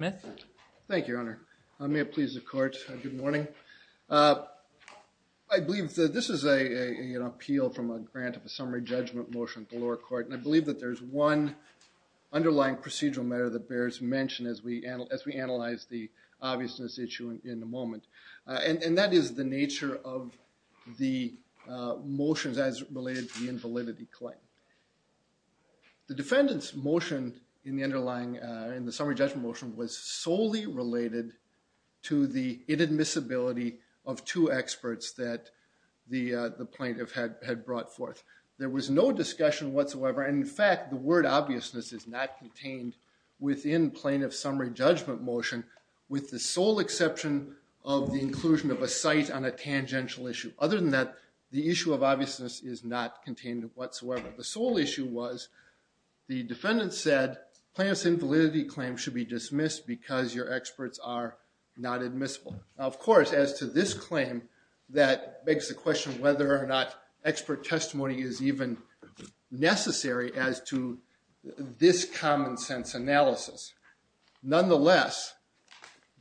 Mr. Smith. Thank you, Your Honor. May it please the court, good morning. I believe that this is an appeal from a grant of a summary judgment motion to the lower court and I believe that there is one underlying procedural matter that bears mention as we analyze the obviousness issue in the moment and that is the nature of the motions as related to the invalidity claim. The defendant's motion in the underlying, in the summary judgment motion was solely related to the inadmissibility of two experts that the plaintiff had brought forth. There was no discussion whatsoever and in fact the word obviousness is not contained within plaintiff's summary judgment motion with the sole exception of the inclusion of a site on a tangential issue. Other than that, the issue of obviousness is not contained whatsoever. The sole issue was the defendant said plaintiff's invalidity claim should be dismissed because your experts are not admissible. Of course, as to this claim that begs the question whether or not expert testimony is even necessary as to this common sense analysis. Nonetheless,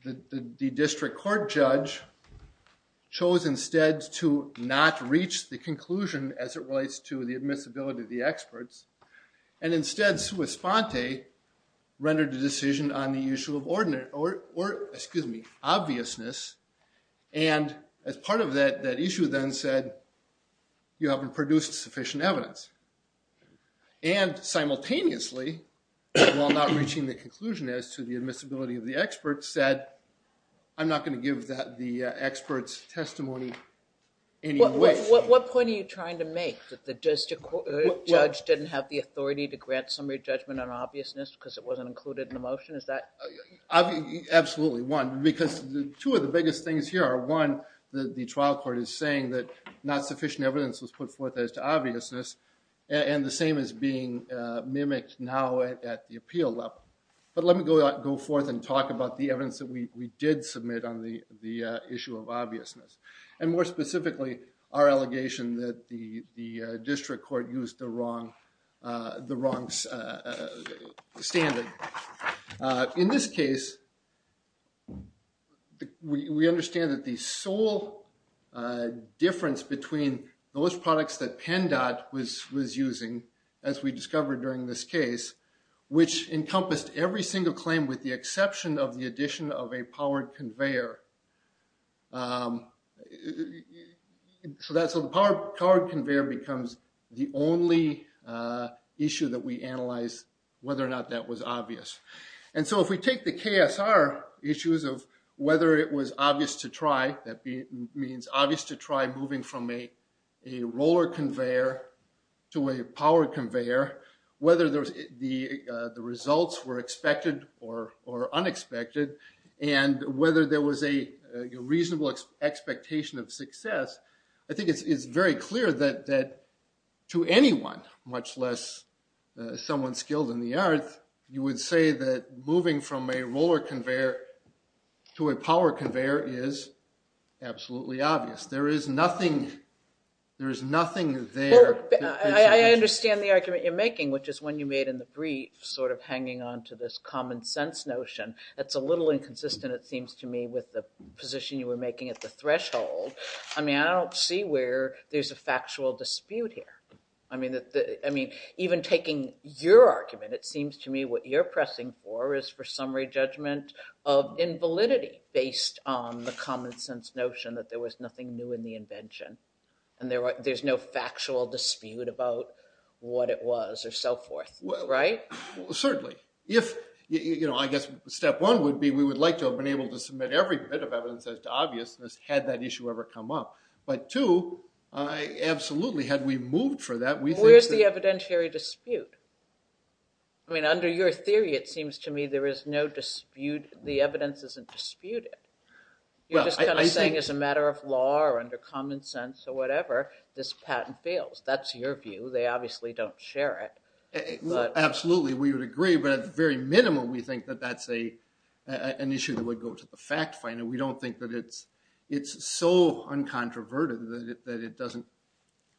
the district court judge chose instead to not reach the conclusion as it relates to the admissibility of the experts and instead Sua Sponte rendered a decision on the issue of ordinate, or excuse me, obviousness and as part of that issue then said you haven't produced sufficient evidence. And simultaneously, while not reaching the conclusion as to the admissibility of the experts said I'm not going to give that the experts testimony anyway. What point are you trying to make that the district court judge didn't have the authority to grant summary judgment on obviousness because it wasn't included in the motion, is that? Absolutely, one, because two of the biggest things here are one, the trial court is saying that not sufficient evidence was put forth as to obviousness and the same is being mimicked now at the appeal level. But let me go forth and talk about the evidence that we did submit on the issue of obviousness and more specifically, our allegation that the district court used the wrong standard. In this case, we understand that the sole difference between those products that PennDOT was using as we discovered during this case, which encompassed every single claim with the exception of the addition of a powered conveyor. So the powered conveyor becomes the only issue that we analyze whether or not that was obvious. And so if we take the KSR issues of whether it was obvious to try, that means obvious to try moving from a roller conveyor to a power conveyor, whether the results were expected or unexpected, and whether there was a reasonable expectation of success. I think it's very clear that to anyone, much less someone skilled in the arts, you would say that moving from a roller conveyor to a power conveyor is absolutely obvious. There is nothing there. I understand the argument you're making, which is one you made in the brief sort of hanging on to this common sense notion. That's a little inconsistent, it seems to me, with the position you were making at the threshold. I mean, I don't see where there's a factual dispute here. I mean, even taking your argument, it seems to me what you're pressing for is for summary judgment of invalidity based on the common sense notion that there was nothing new in the invention. And there's no factual dispute about what it was or so forth, right? Certainly. I guess step one would be we would like to have been able to submit every bit of evidence as to obviousness had that issue ever come up. But two, absolutely, had we moved for that, we think that... Where's the evidentiary dispute? I mean, under your theory, it seems to me there is no dispute. The evidence isn't disputed. You're just kind of saying as a matter of law or under common sense or whatever, this patent fails. That's your view. They obviously don't share it. Absolutely, we would agree. But at the very minimum, we think that that's an issue that would go to the fact finder. We don't think that it's so uncontroverted that it doesn't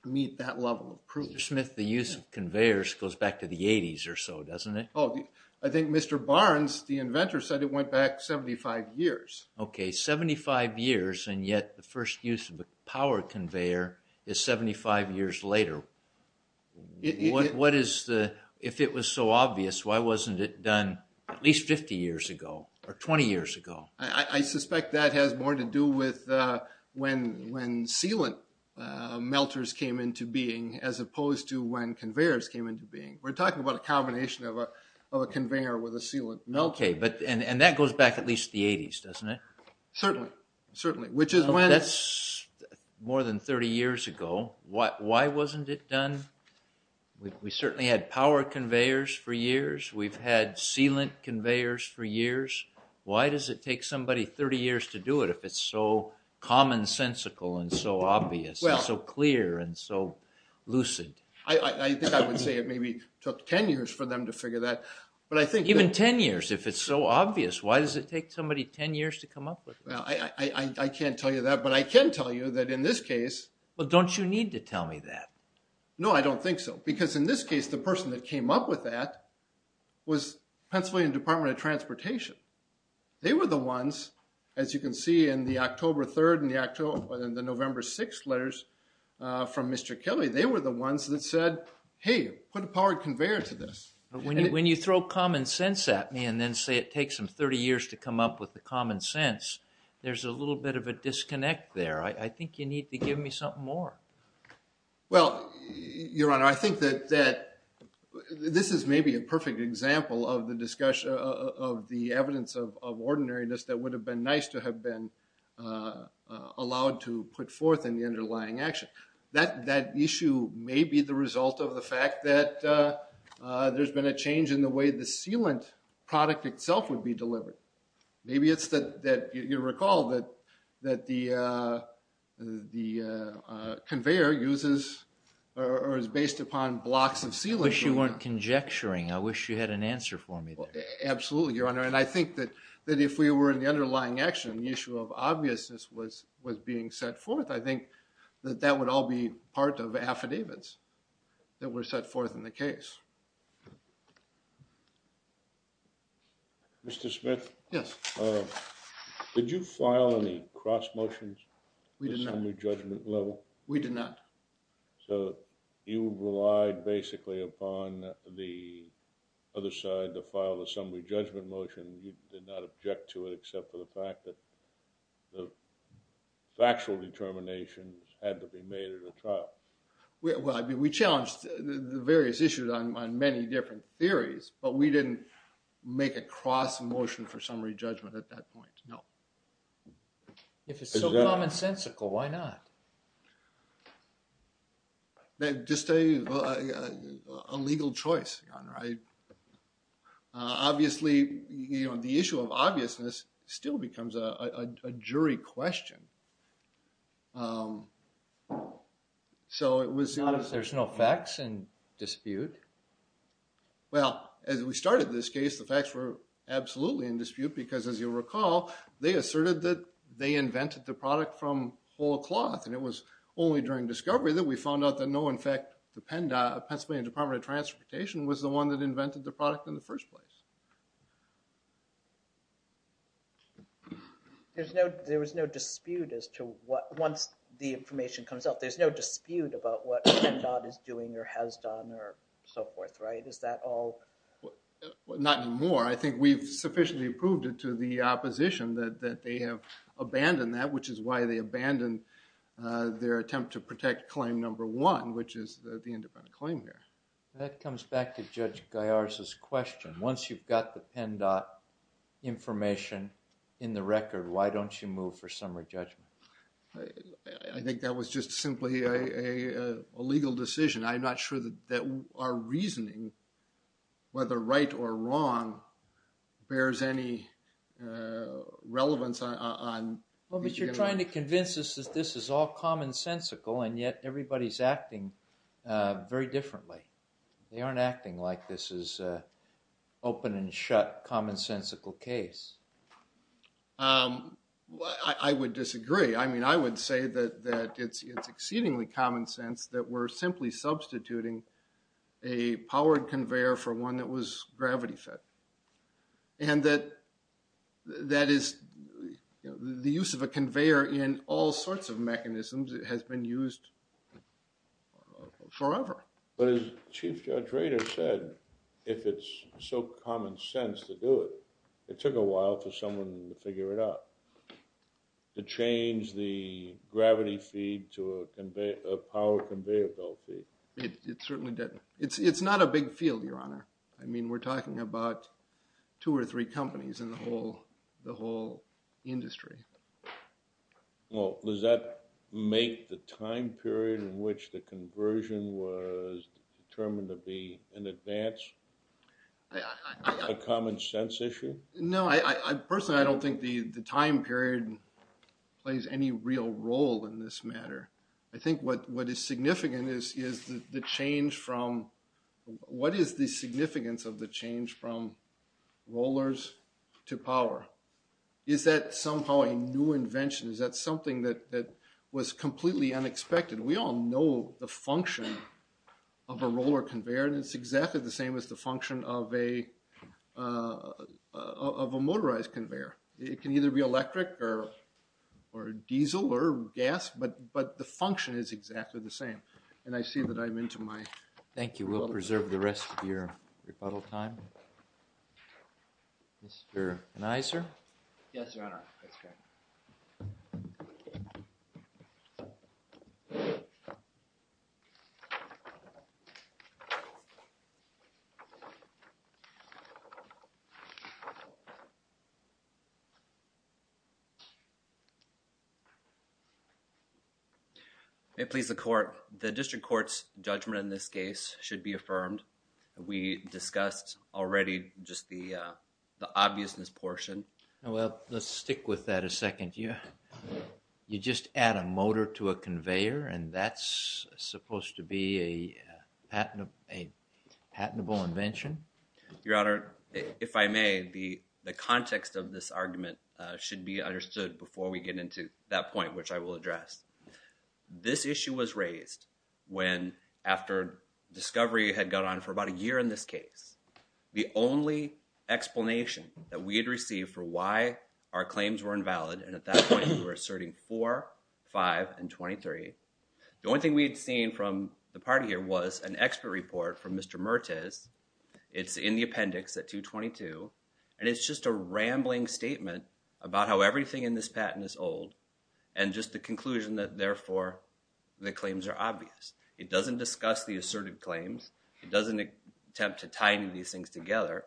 meet that level of proof. Mr. Smith, the use of conveyors goes back to the 80s or so, doesn't it? Oh, I think Mr. Barnes, the inventor, said it went back 75 years. Okay, 75 years, and yet the first use of a power conveyor is 75 years later. What is the... If it was so obvious, why wasn't it done at least 50 years ago or 20 years ago? I suspect that has more to do with when sealant melters came into being as opposed to when conveyors came into being. We're talking about a combination of a conveyor with a sealant melter. Okay, and that goes back at least the 80s, doesn't it? Certainly, certainly, which is when... That's more than 30 years ago. Why wasn't it done? We certainly had power conveyors for years. We've had sealant conveyors for years. Why does it take somebody 30 years to do it if it's so commonsensical and so obvious and so clear and so lucid? I think I would say it maybe took 10 years for them to figure that, but I think... Even 10 years, if it's so obvious. Why does it take somebody 10 years to come up with it? I can't tell you that, but I can tell you that in this case... Well, don't you need to tell me that? No, I don't think so. Because in this case, the person that came up with that was Pennsylvania Department of Transportation. They were the ones, as you can see in the October 3rd and the November 6th letters from Mr. Kelly, they were the ones that said, Hey, put a powered conveyor to this. When you throw common sense at me and then say it takes them 30 years to come up with the common sense, there's a little bit of a disconnect there. I think you need to give me something more. Well, Your Honor, I think that this is maybe a perfect example of the evidence of ordinariness that would have been nice to have been allowed to put forth in the underlying action. That issue may be the result of the fact that there's been a change in the way the sealant product itself would be delivered. Maybe it's that you recall that the conveyor uses or is based upon blocks of sealant. I wish you weren't conjecturing. I wish you had an answer for me there. Absolutely, Your Honor. And I think that if we were in the underlying action, the issue of obviousness was being set forth, I think that that would all be part of affidavits that were set forth in the case. Mr. Smith? Yes. Did you file any cross motions? We did not. We did not. So you relied basically upon the other side to file the summary judgment motion. You did not object to it except for the fact that the factual determination had to be made at a trial. We challenged the various issues on many different theories, but we didn't make a cross motion for summary judgment at that point. No. If it's so commonsensical, why not? Obviously, the issue of obviousness still becomes a jury question. There's no facts in dispute? Well, as we started this case, the facts were absolutely in dispute because, as you recall, they asserted that they invented the product from whole cloth, and it was only during discovery that we found out that no, in fact, the Pennsylvania Department of Transportation was the one that invented the product in the first place. There was no dispute as to what, once the information comes out, there's no dispute about what PennDOT is doing or has done or so forth, right? Is that all? Not anymore. I think we've sufficiently proved it to the opposition that they have abandoned that, which is why they abandoned their attempt to protect claim number one, which is the independent claim here. That comes back to Judge Gaiar's question. Once you've got the PennDOT information in the record, why don't you move for summary judgment? I think that was just simply a legal decision. I'm not sure that our reasoning, whether right or wrong, bears any relevance. Well, but you're trying to convince us that this is all commonsensical, and yet everybody's acting very differently. They aren't acting like this is an open and shut commonsensical case. I would disagree. I mean, I would say that it's exceedingly common sense that we're simply substituting a powered conveyor for one that was gravity-fed. And that is the use of a conveyor in all sorts of mechanisms has been used forever. But as Chief Judge Rader said, if it's so common sense to do it, it took a while for someone to figure it out. To change the gravity feed to a power conveyor belt feed. It certainly didn't. It's not a big field, Your Honor. I mean, we're talking about two or three companies in the whole industry. Well, does that make the time period in which the conversion was determined to be in advance a common sense issue? No, personally, I don't think the time period plays any real role in this matter. I think what is significant is the change from, what is the significance of the change from rollers to power? Is that somehow a new invention? Is that something that was completely unexpected? We all know the function of a roller conveyor, and it's exactly the same as the function of a motorized conveyor. It can either be electric or diesel or gas, but the function is exactly the same. And I see that I'm into my... Thank you. We'll preserve the rest of your rebuttal time. Mr. Anheuser? Yes, Your Honor. Thank you. May it please the Court, the District Court's judgment in this case should be affirmed. We discussed already just the obviousness portion. Well, let's stick with that a second. You just add a motor to a conveyor, and that's supposed to be a patentable invention? Your Honor, if I may, the context of this argument should be understood before we get into that point, which I will address. This issue was raised when, after discovery had gone on for about a year in this case, the only explanation that we had received for why our claims were invalid, and at that point we were asserting 4, 5, and 23, the only thing we had seen from the party here was an expert report from Mr. Mertiz. It's in the appendix at 222, and it's just a rambling statement about how everything in this patent is old, and just the conclusion that, therefore, the claims are obvious. It doesn't discuss the asserted claims. It doesn't attempt to tie any of these things together.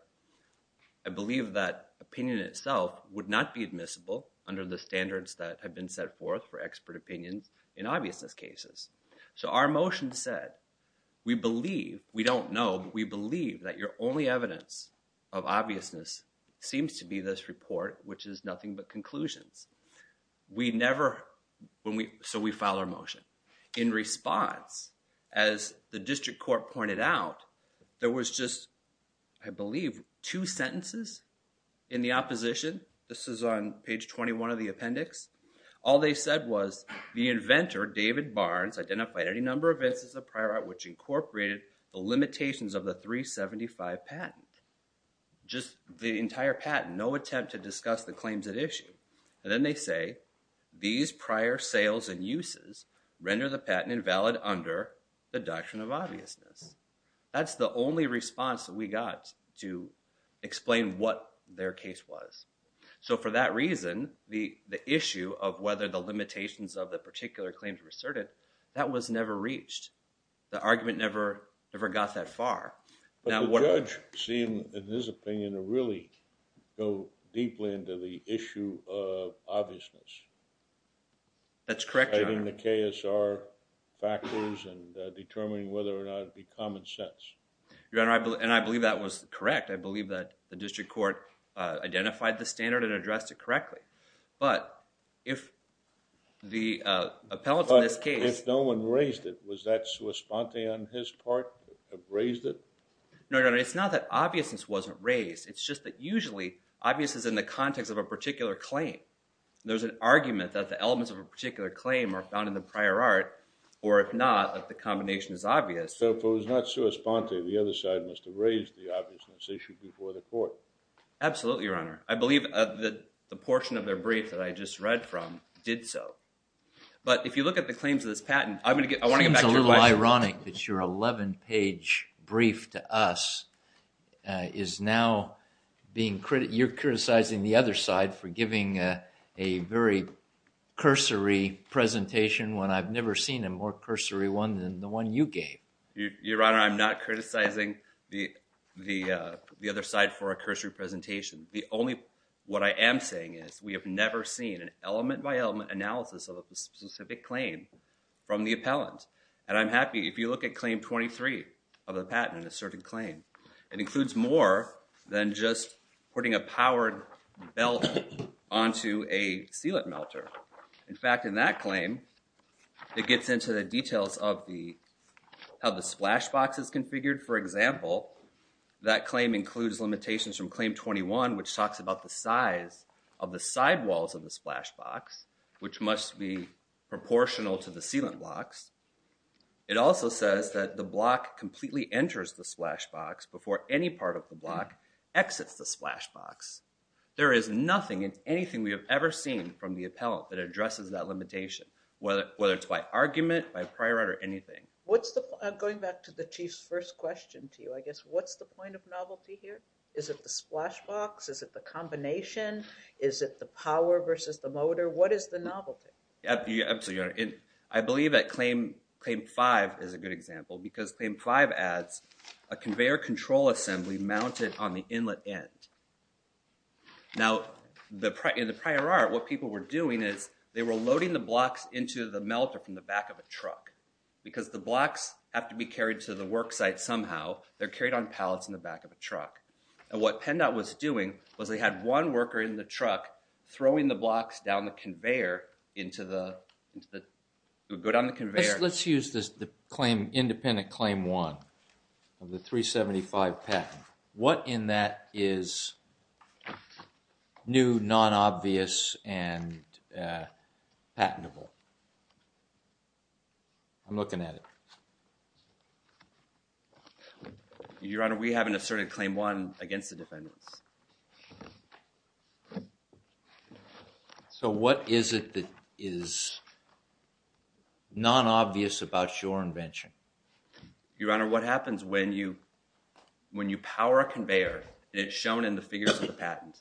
I believe that opinion itself would not be admissible under the standards that have been set forth for expert opinions in obviousness cases. So our motion said, we believe, we don't know, but we believe that your only evidence of obviousness seems to be this report, which is nothing but conclusions. We never, so we file our motion. In response, as the district court pointed out, there was just, I believe, two sentences in the opposition. This is on page 21 of the appendix. All they said was, the inventor, David Barnes, identified any number of instances of prior art which incorporated the limitations of the 375 patent. Just the entire patent, no attempt to discuss the claims at issue. And then they say, these prior sales and uses render the patent invalid under the doctrine of obviousness. That's the only response that we got to explain what their case was. So for that reason, the issue of whether the limitations of the particular claims were asserted, that was never reached. The argument never got that far. But the judge seemed, in his opinion, to really go deeply into the issue of obviousness. That's correct, Your Honor. Citing the KSR factors and determining whether or not it would be common sense. Your Honor, and I believe that was correct. I believe that the district court identified the standard and addressed it correctly. But if the appellate in this case— No, Your Honor. It's not that obviousness wasn't raised. It's just that usually, obviousness is in the context of a particular claim. There's an argument that the elements of a particular claim are found in the prior art. Or if not, that the combination is obvious. Absolutely, Your Honor. I believe that the portion of their brief that I just read from did so. But if you look at the claims of this patent— It seems a little ironic that your 11-page brief to us is now being— You're criticizing the other side for giving a very cursory presentation when I've never seen a more cursory one than the one you gave. Your Honor, I'm not criticizing the other side for a cursory presentation. The only—what I am saying is we have never seen an element-by-element analysis of a specific claim from the appellant. And I'm happy—if you look at Claim 23 of the patent in a certain claim, it includes more than just putting a powered belt onto a sealant melter. In fact, in that claim, it gets into the details of how the splash box is configured. For example, that claim includes limitations from Claim 21, which talks about the size of the sidewalls of the splash box, which must be proportional to the sealant blocks. It also says that the block completely enters the splash box before any part of the block exits the splash box. There is nothing in anything we have ever seen from the appellant that addresses that limitation, whether it's by argument, by prior art, or anything. What's the—going back to the Chief's first question to you, I guess. What's the point of novelty here? Is it the splash box? Is it the combination? Is it the power versus the motor? What is the novelty? Absolutely, Your Honor. I believe that Claim 5 is a good example because Claim 5 adds a conveyor control assembly mounted on the inlet end. Now, in the prior art, what people were doing is they were loading the blocks into the melter from the back of a truck because the blocks have to be carried to the work site somehow. They're carried on pallets in the back of a truck. And what PennDOT was doing was they had one worker in the truck throwing the blocks down the conveyor into the— go down the conveyor. Let's use the claim—independent Claim 1 of the 375 patent. What in that is new, non-obvious, and patentable? I'm looking at it. Your Honor, we have an asserted Claim 1 against the defendants. So what is it that is non-obvious about your invention? Your Honor, what happens when you power a conveyor? It's shown in the figures of the patent.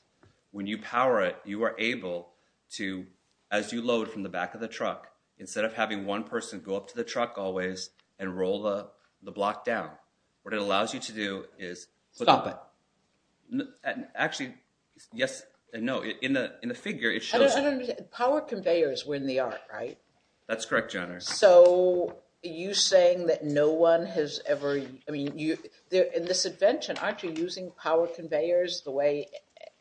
When you power it, you are able to, as you load from the back of the truck, instead of having one person go up to the truck always and roll the block down, what it allows you to do is— Stop it. Actually, yes and no. In the figure, it shows— Power conveyors were in the art, right? That's correct, Your Honor. So are you saying that no one has ever— I mean, in this invention, aren't you using power conveyors the way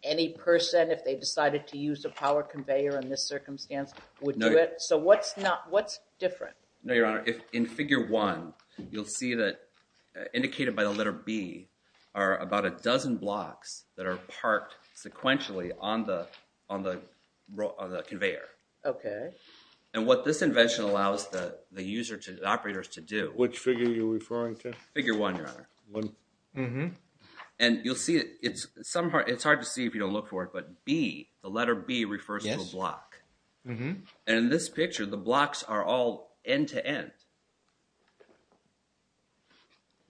any person, if they decided to use a power conveyor in this circumstance, would do it? So what's different? No, Your Honor. In Figure 1, you'll see that, indicated by the letter B, are about a dozen blocks that are parked sequentially on the conveyor. Okay. And what this invention allows the operators to do— Which figure are you referring to? Figure 1, Your Honor. One. Mm-hmm. And you'll see it's hard to see if you don't look for it, but B, the letter B, refers to a block. Mm-hmm. And in this picture, the blocks are all end-to-end.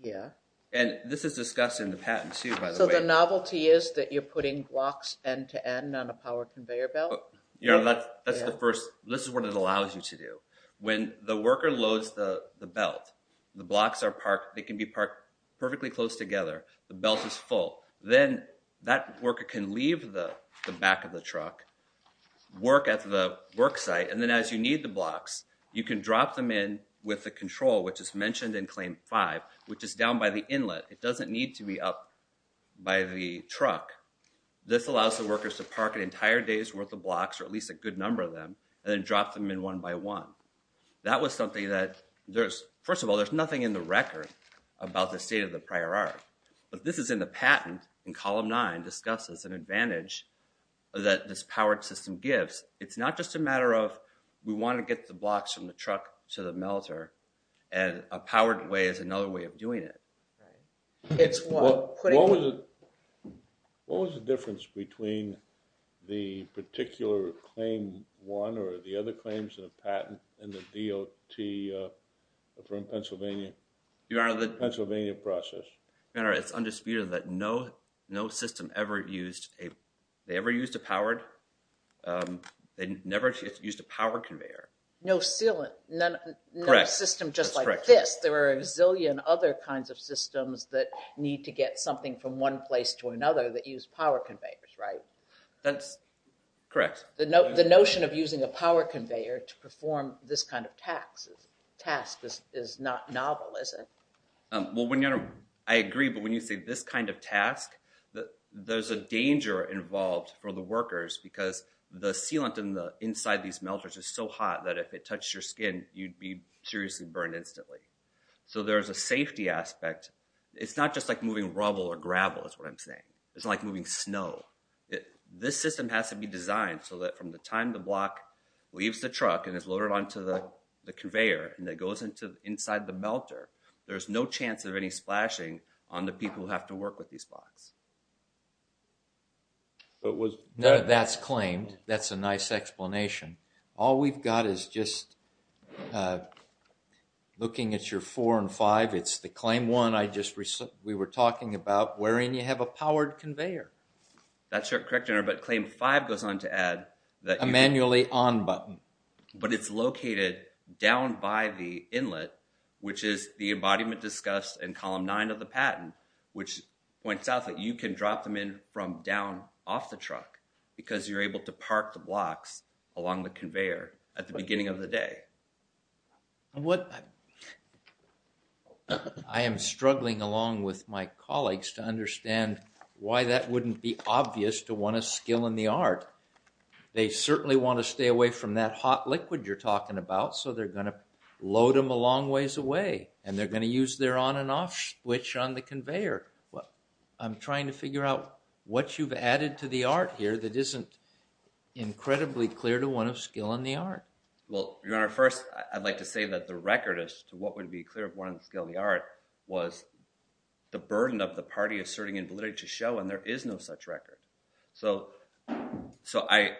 Yeah. And this is discussed in the patent, too, by the way. So the novelty is that you're putting blocks end-to-end on a power conveyor belt? That's the first—this is what it allows you to do. When the worker loads the belt, the blocks are parked. They can be parked perfectly close together. The belt is full. Then that worker can leave the back of the truck, work at the work site, and then as you need the blocks, you can drop them in with the control, which is mentioned in Claim 5, which is down by the inlet. It doesn't need to be up by the truck. This allows the workers to park an entire day's worth of blocks, or at least a good number of them, and then drop them in one by one. That was something that there's—first of all, there's nothing in the record about the state of the prior art. But this is in the patent in Column 9, discusses an advantage that this powered system gives. It's not just a matter of we want to get the blocks from the truck to the melter, and a powered way is another way of doing it. What was the difference between the particular Claim 1 or the other claims in the patent and the DOT from Pennsylvania? Your Honor, the Pennsylvania process. Your Honor, it's undisputed that no system ever used a—they ever used a powered— they never used a powered conveyor. No sealant. Correct. No system just like this. Yes, there are a zillion other kinds of systems that need to get something from one place to another that use power conveyors, right? That's correct. The notion of using a power conveyor to perform this kind of task is not novel, is it? Well, Your Honor, I agree, but when you say this kind of task, there's a danger involved for the workers because the sealant inside these melters is so hot that if it touched your skin, you'd be seriously burned instantly. So there's a safety aspect. It's not just like moving rubble or gravel is what I'm saying. It's like moving snow. This system has to be designed so that from the time the block leaves the truck and is loaded onto the conveyor and it goes inside the melter, there's no chance of any splashing on the people who have to work with these blocks. None of that's claimed. That's a nice explanation. All we've got is just looking at your four and five. It's the claim one we were talking about wherein you have a powered conveyor. That's correct, Your Honor, but claim five goes on to add that you can... A manually on button. But it's located down by the inlet, which is the embodiment discussed in column nine of the patent, which points out that you can drop them in from down off the truck because you're able to park the blocks along the conveyor at the beginning of the day. I am struggling along with my colleagues to understand why that wouldn't be obvious to one of skill in the art. They certainly want to stay away from that hot liquid you're talking about, so they're going to load them a long ways away, and they're going to use their on and off switch on the conveyor. I'm trying to figure out what you've added to the art here that isn't incredibly clear to one of skill in the art. Well, Your Honor, first I'd like to say that the record as to what would be clear of one of skill in the art was the burden of the party asserting invalidity to show, and there is no such record. So I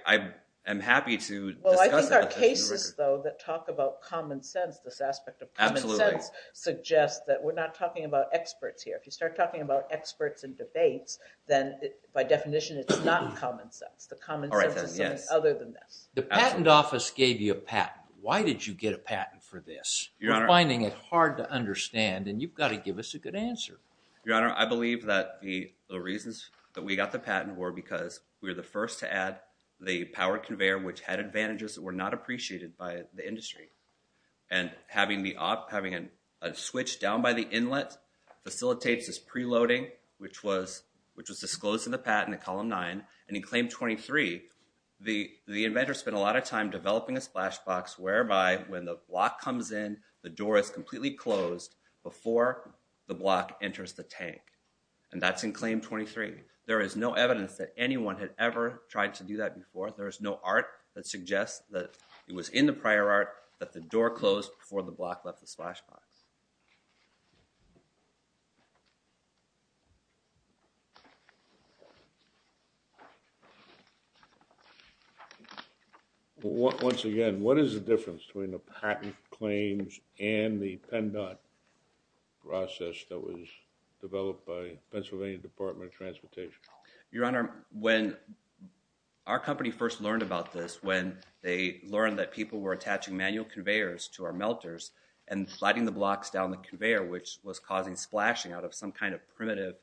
am happy to discuss it. Well, I think our cases, though, that talk about common sense, this aspect of common sense, suggests that we're not talking about experts here. If you start talking about experts in debates, then by definition it's not common sense. The common sense is something other than this. The patent office gave you a patent. Why did you get a patent for this? We're finding it hard to understand, and you've got to give us a good answer. Your Honor, I believe that the reasons that we got the patent were because we were the first to add the power conveyor, which had advantages that were not appreciated by the industry, and having a switch down by the inlet facilitates this preloading, which was disclosed in the patent in Column 9. And in Claim 23, the inventor spent a lot of time developing a splash box whereby when the block comes in, the door is completely closed before the block enters the tank. And that's in Claim 23. There is no evidence that anyone had ever tried to do that before. There is no art that suggests that it was in the prior art that the door closed before the block left the splash box. Once again, what is the difference between the patent claims and the pen dot process that was developed by Pennsylvania Department of Transportation? Your Honor, when our company first learned about this, was when they learned that people were attaching manual conveyors to our melters and sliding the blocks down the conveyor, which was causing splashing out of some kind of primitive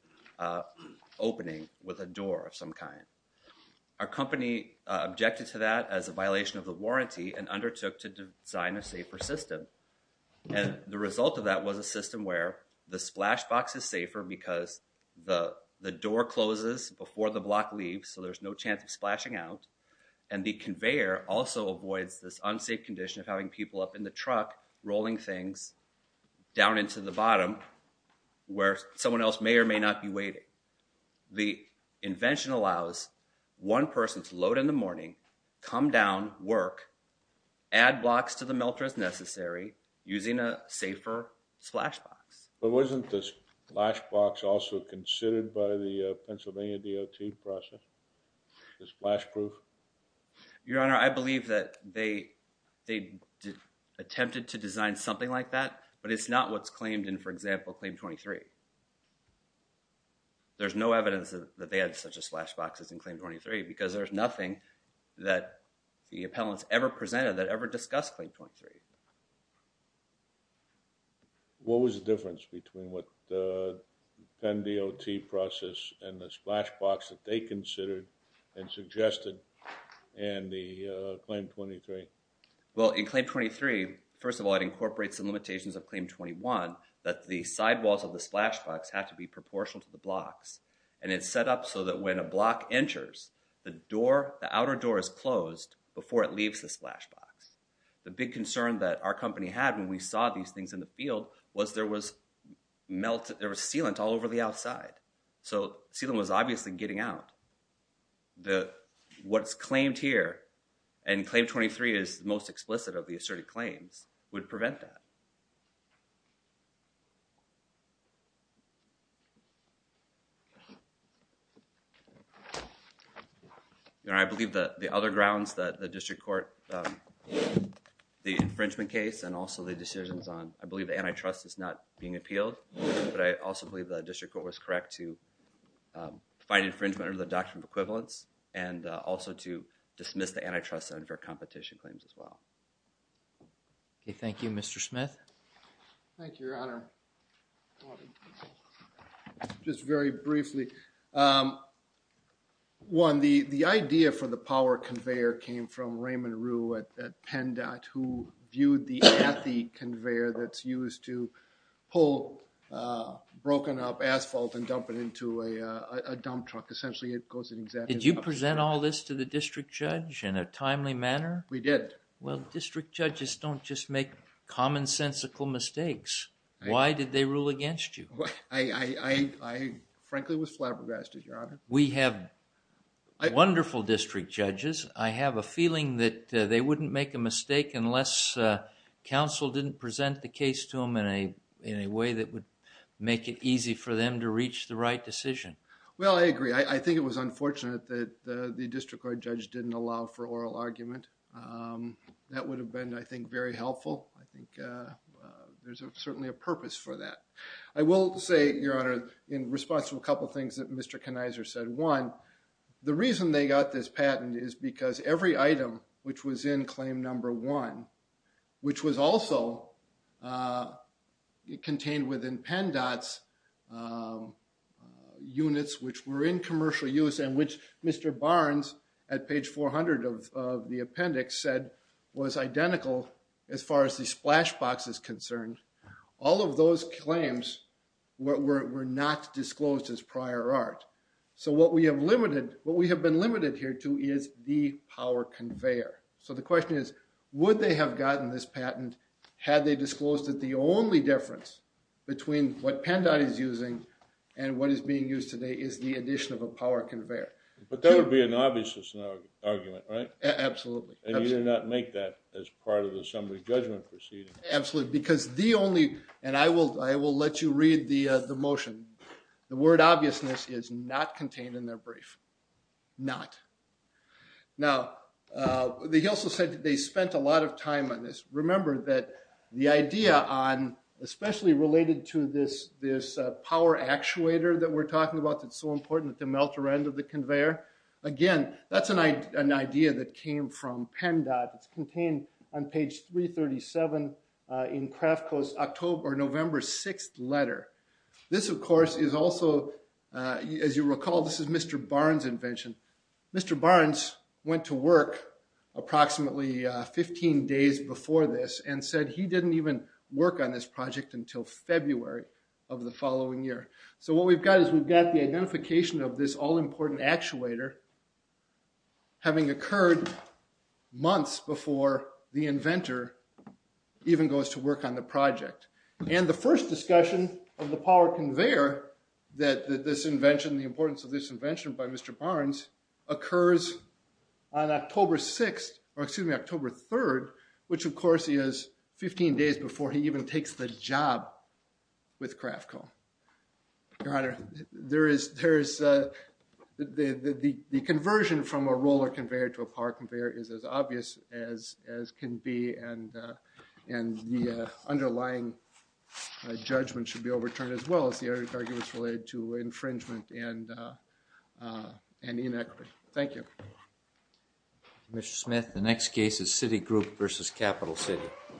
opening with a door of some kind. Our company objected to that as a violation of the warranty and undertook to design a safer system. And the result of that was a system where the splash box is safer because the door closes before the block leaves, so there's no chance of splashing out, and the conveyor also avoids this unsafe condition of having people up in the truck rolling things down into the bottom where someone else may or may not be waiting. The invention allows one person to load in the morning, come down, work, add blocks to the melter as necessary using a safer splash box. But wasn't the splash box also considered by the Pennsylvania DOT process? Is it splash proof? Your Honor, I believe that they attempted to design something like that, but it's not what's claimed in, for example, Claim 23. There's no evidence that they had such a splash box as in Claim 23 because there's nothing that the appellants ever presented that ever discussed Claim 23. What was the difference between what the Penn DOT process and the splash box that they considered and suggested in the Claim 23? Well, in Claim 23, first of all, it incorporates the limitations of Claim 21 that the sidewalls of the splash box have to be proportional to the blocks, and it's set up so that when a block enters, the outer door is closed before it leaves the splash box. The big concern that our company had when we saw these things in the field was there was sealant all over the outside. So sealant was obviously getting out. What's claimed here, and Claim 23 is most explicit of the asserted claims, would prevent that. Your Honor, I believe that the other grounds that the district court, the infringement case and also the decisions on, I believe, the antitrust is not being appealed, but I also believe the district court was correct to find infringement under the Doctrine of Equivalence and also to dismiss the antitrust under competition claims as well. Okay, thank you. Mr. Smith? Thank you, Your Honor. Just very briefly. One, the idea for the power conveyor came from Raymond Rue at Penn DOT who viewed the athy conveyor that's used to pull broken up asphalt and dump it into a dump truck. Essentially, it goes in exactly... Did you present all this to the district judge in a timely manner? We did. Well, district judges don't just make commonsensical mistakes. Why did they rule against you? I frankly was flabbergasted, Your Honor. We have wonderful district judges. I have a feeling that they wouldn't make a mistake unless counsel didn't present the case to them in a way that would make it easy for them to reach the right decision. Well, I agree. I think it was unfortunate that the district court judge didn't allow for oral argument. That would have been, I think, very helpful. I think there's certainly a purpose for that. I will say, Your Honor, in response to a couple of things that Mr. The reason they got this patent is because every item which was in claim number one, which was also contained within Penn DOT's units which were in commercial use and which Mr. Barnes at page 400 of the appendix said was identical as far as the splash box is concerned. All of those claims were not disclosed as prior art. So what we have been limited here to is the power conveyor. So the question is, would they have gotten this patent had they disclosed that the only difference between what Penn DOT is using and what is being used today is the addition of a power conveyor? But that would be an obvious argument, right? Absolutely. And you did not make that as part of the summary judgment proceeding. Absolutely. Because the only, and I will let you read the motion. The word obviousness is not contained in their brief. Not. Now, he also said that they spent a lot of time on this. Remember that the idea on, especially related to this power actuator that we're talking about that's so important at the melter end of the conveyor. Again, that's an idea that came from Penn DOT. It's contained on page 337 in Craftco's October, November 6th letter. This, of course, is also, as you recall, this is Mr. Barnes' invention. Mr. Barnes went to work approximately 15 days before this and said he didn't even work on this project until February of the following year. So what we've got is we've got the identification of this all-important actuator having occurred months before the inventor even goes to work on the project. And the first discussion of the power conveyor that this invention, the importance of this invention by Mr. Barnes, occurs on October 6th, or excuse me, October 3rd, which, of course, is 15 days before he even takes the job with Craftco. Your Honor, the conversion from a roller conveyor to a power conveyor is as judgment should be overturned as well as the arguments related to infringement and inequity. Thank you. Mr. Smith, the next case is Citigroup v. Capital City.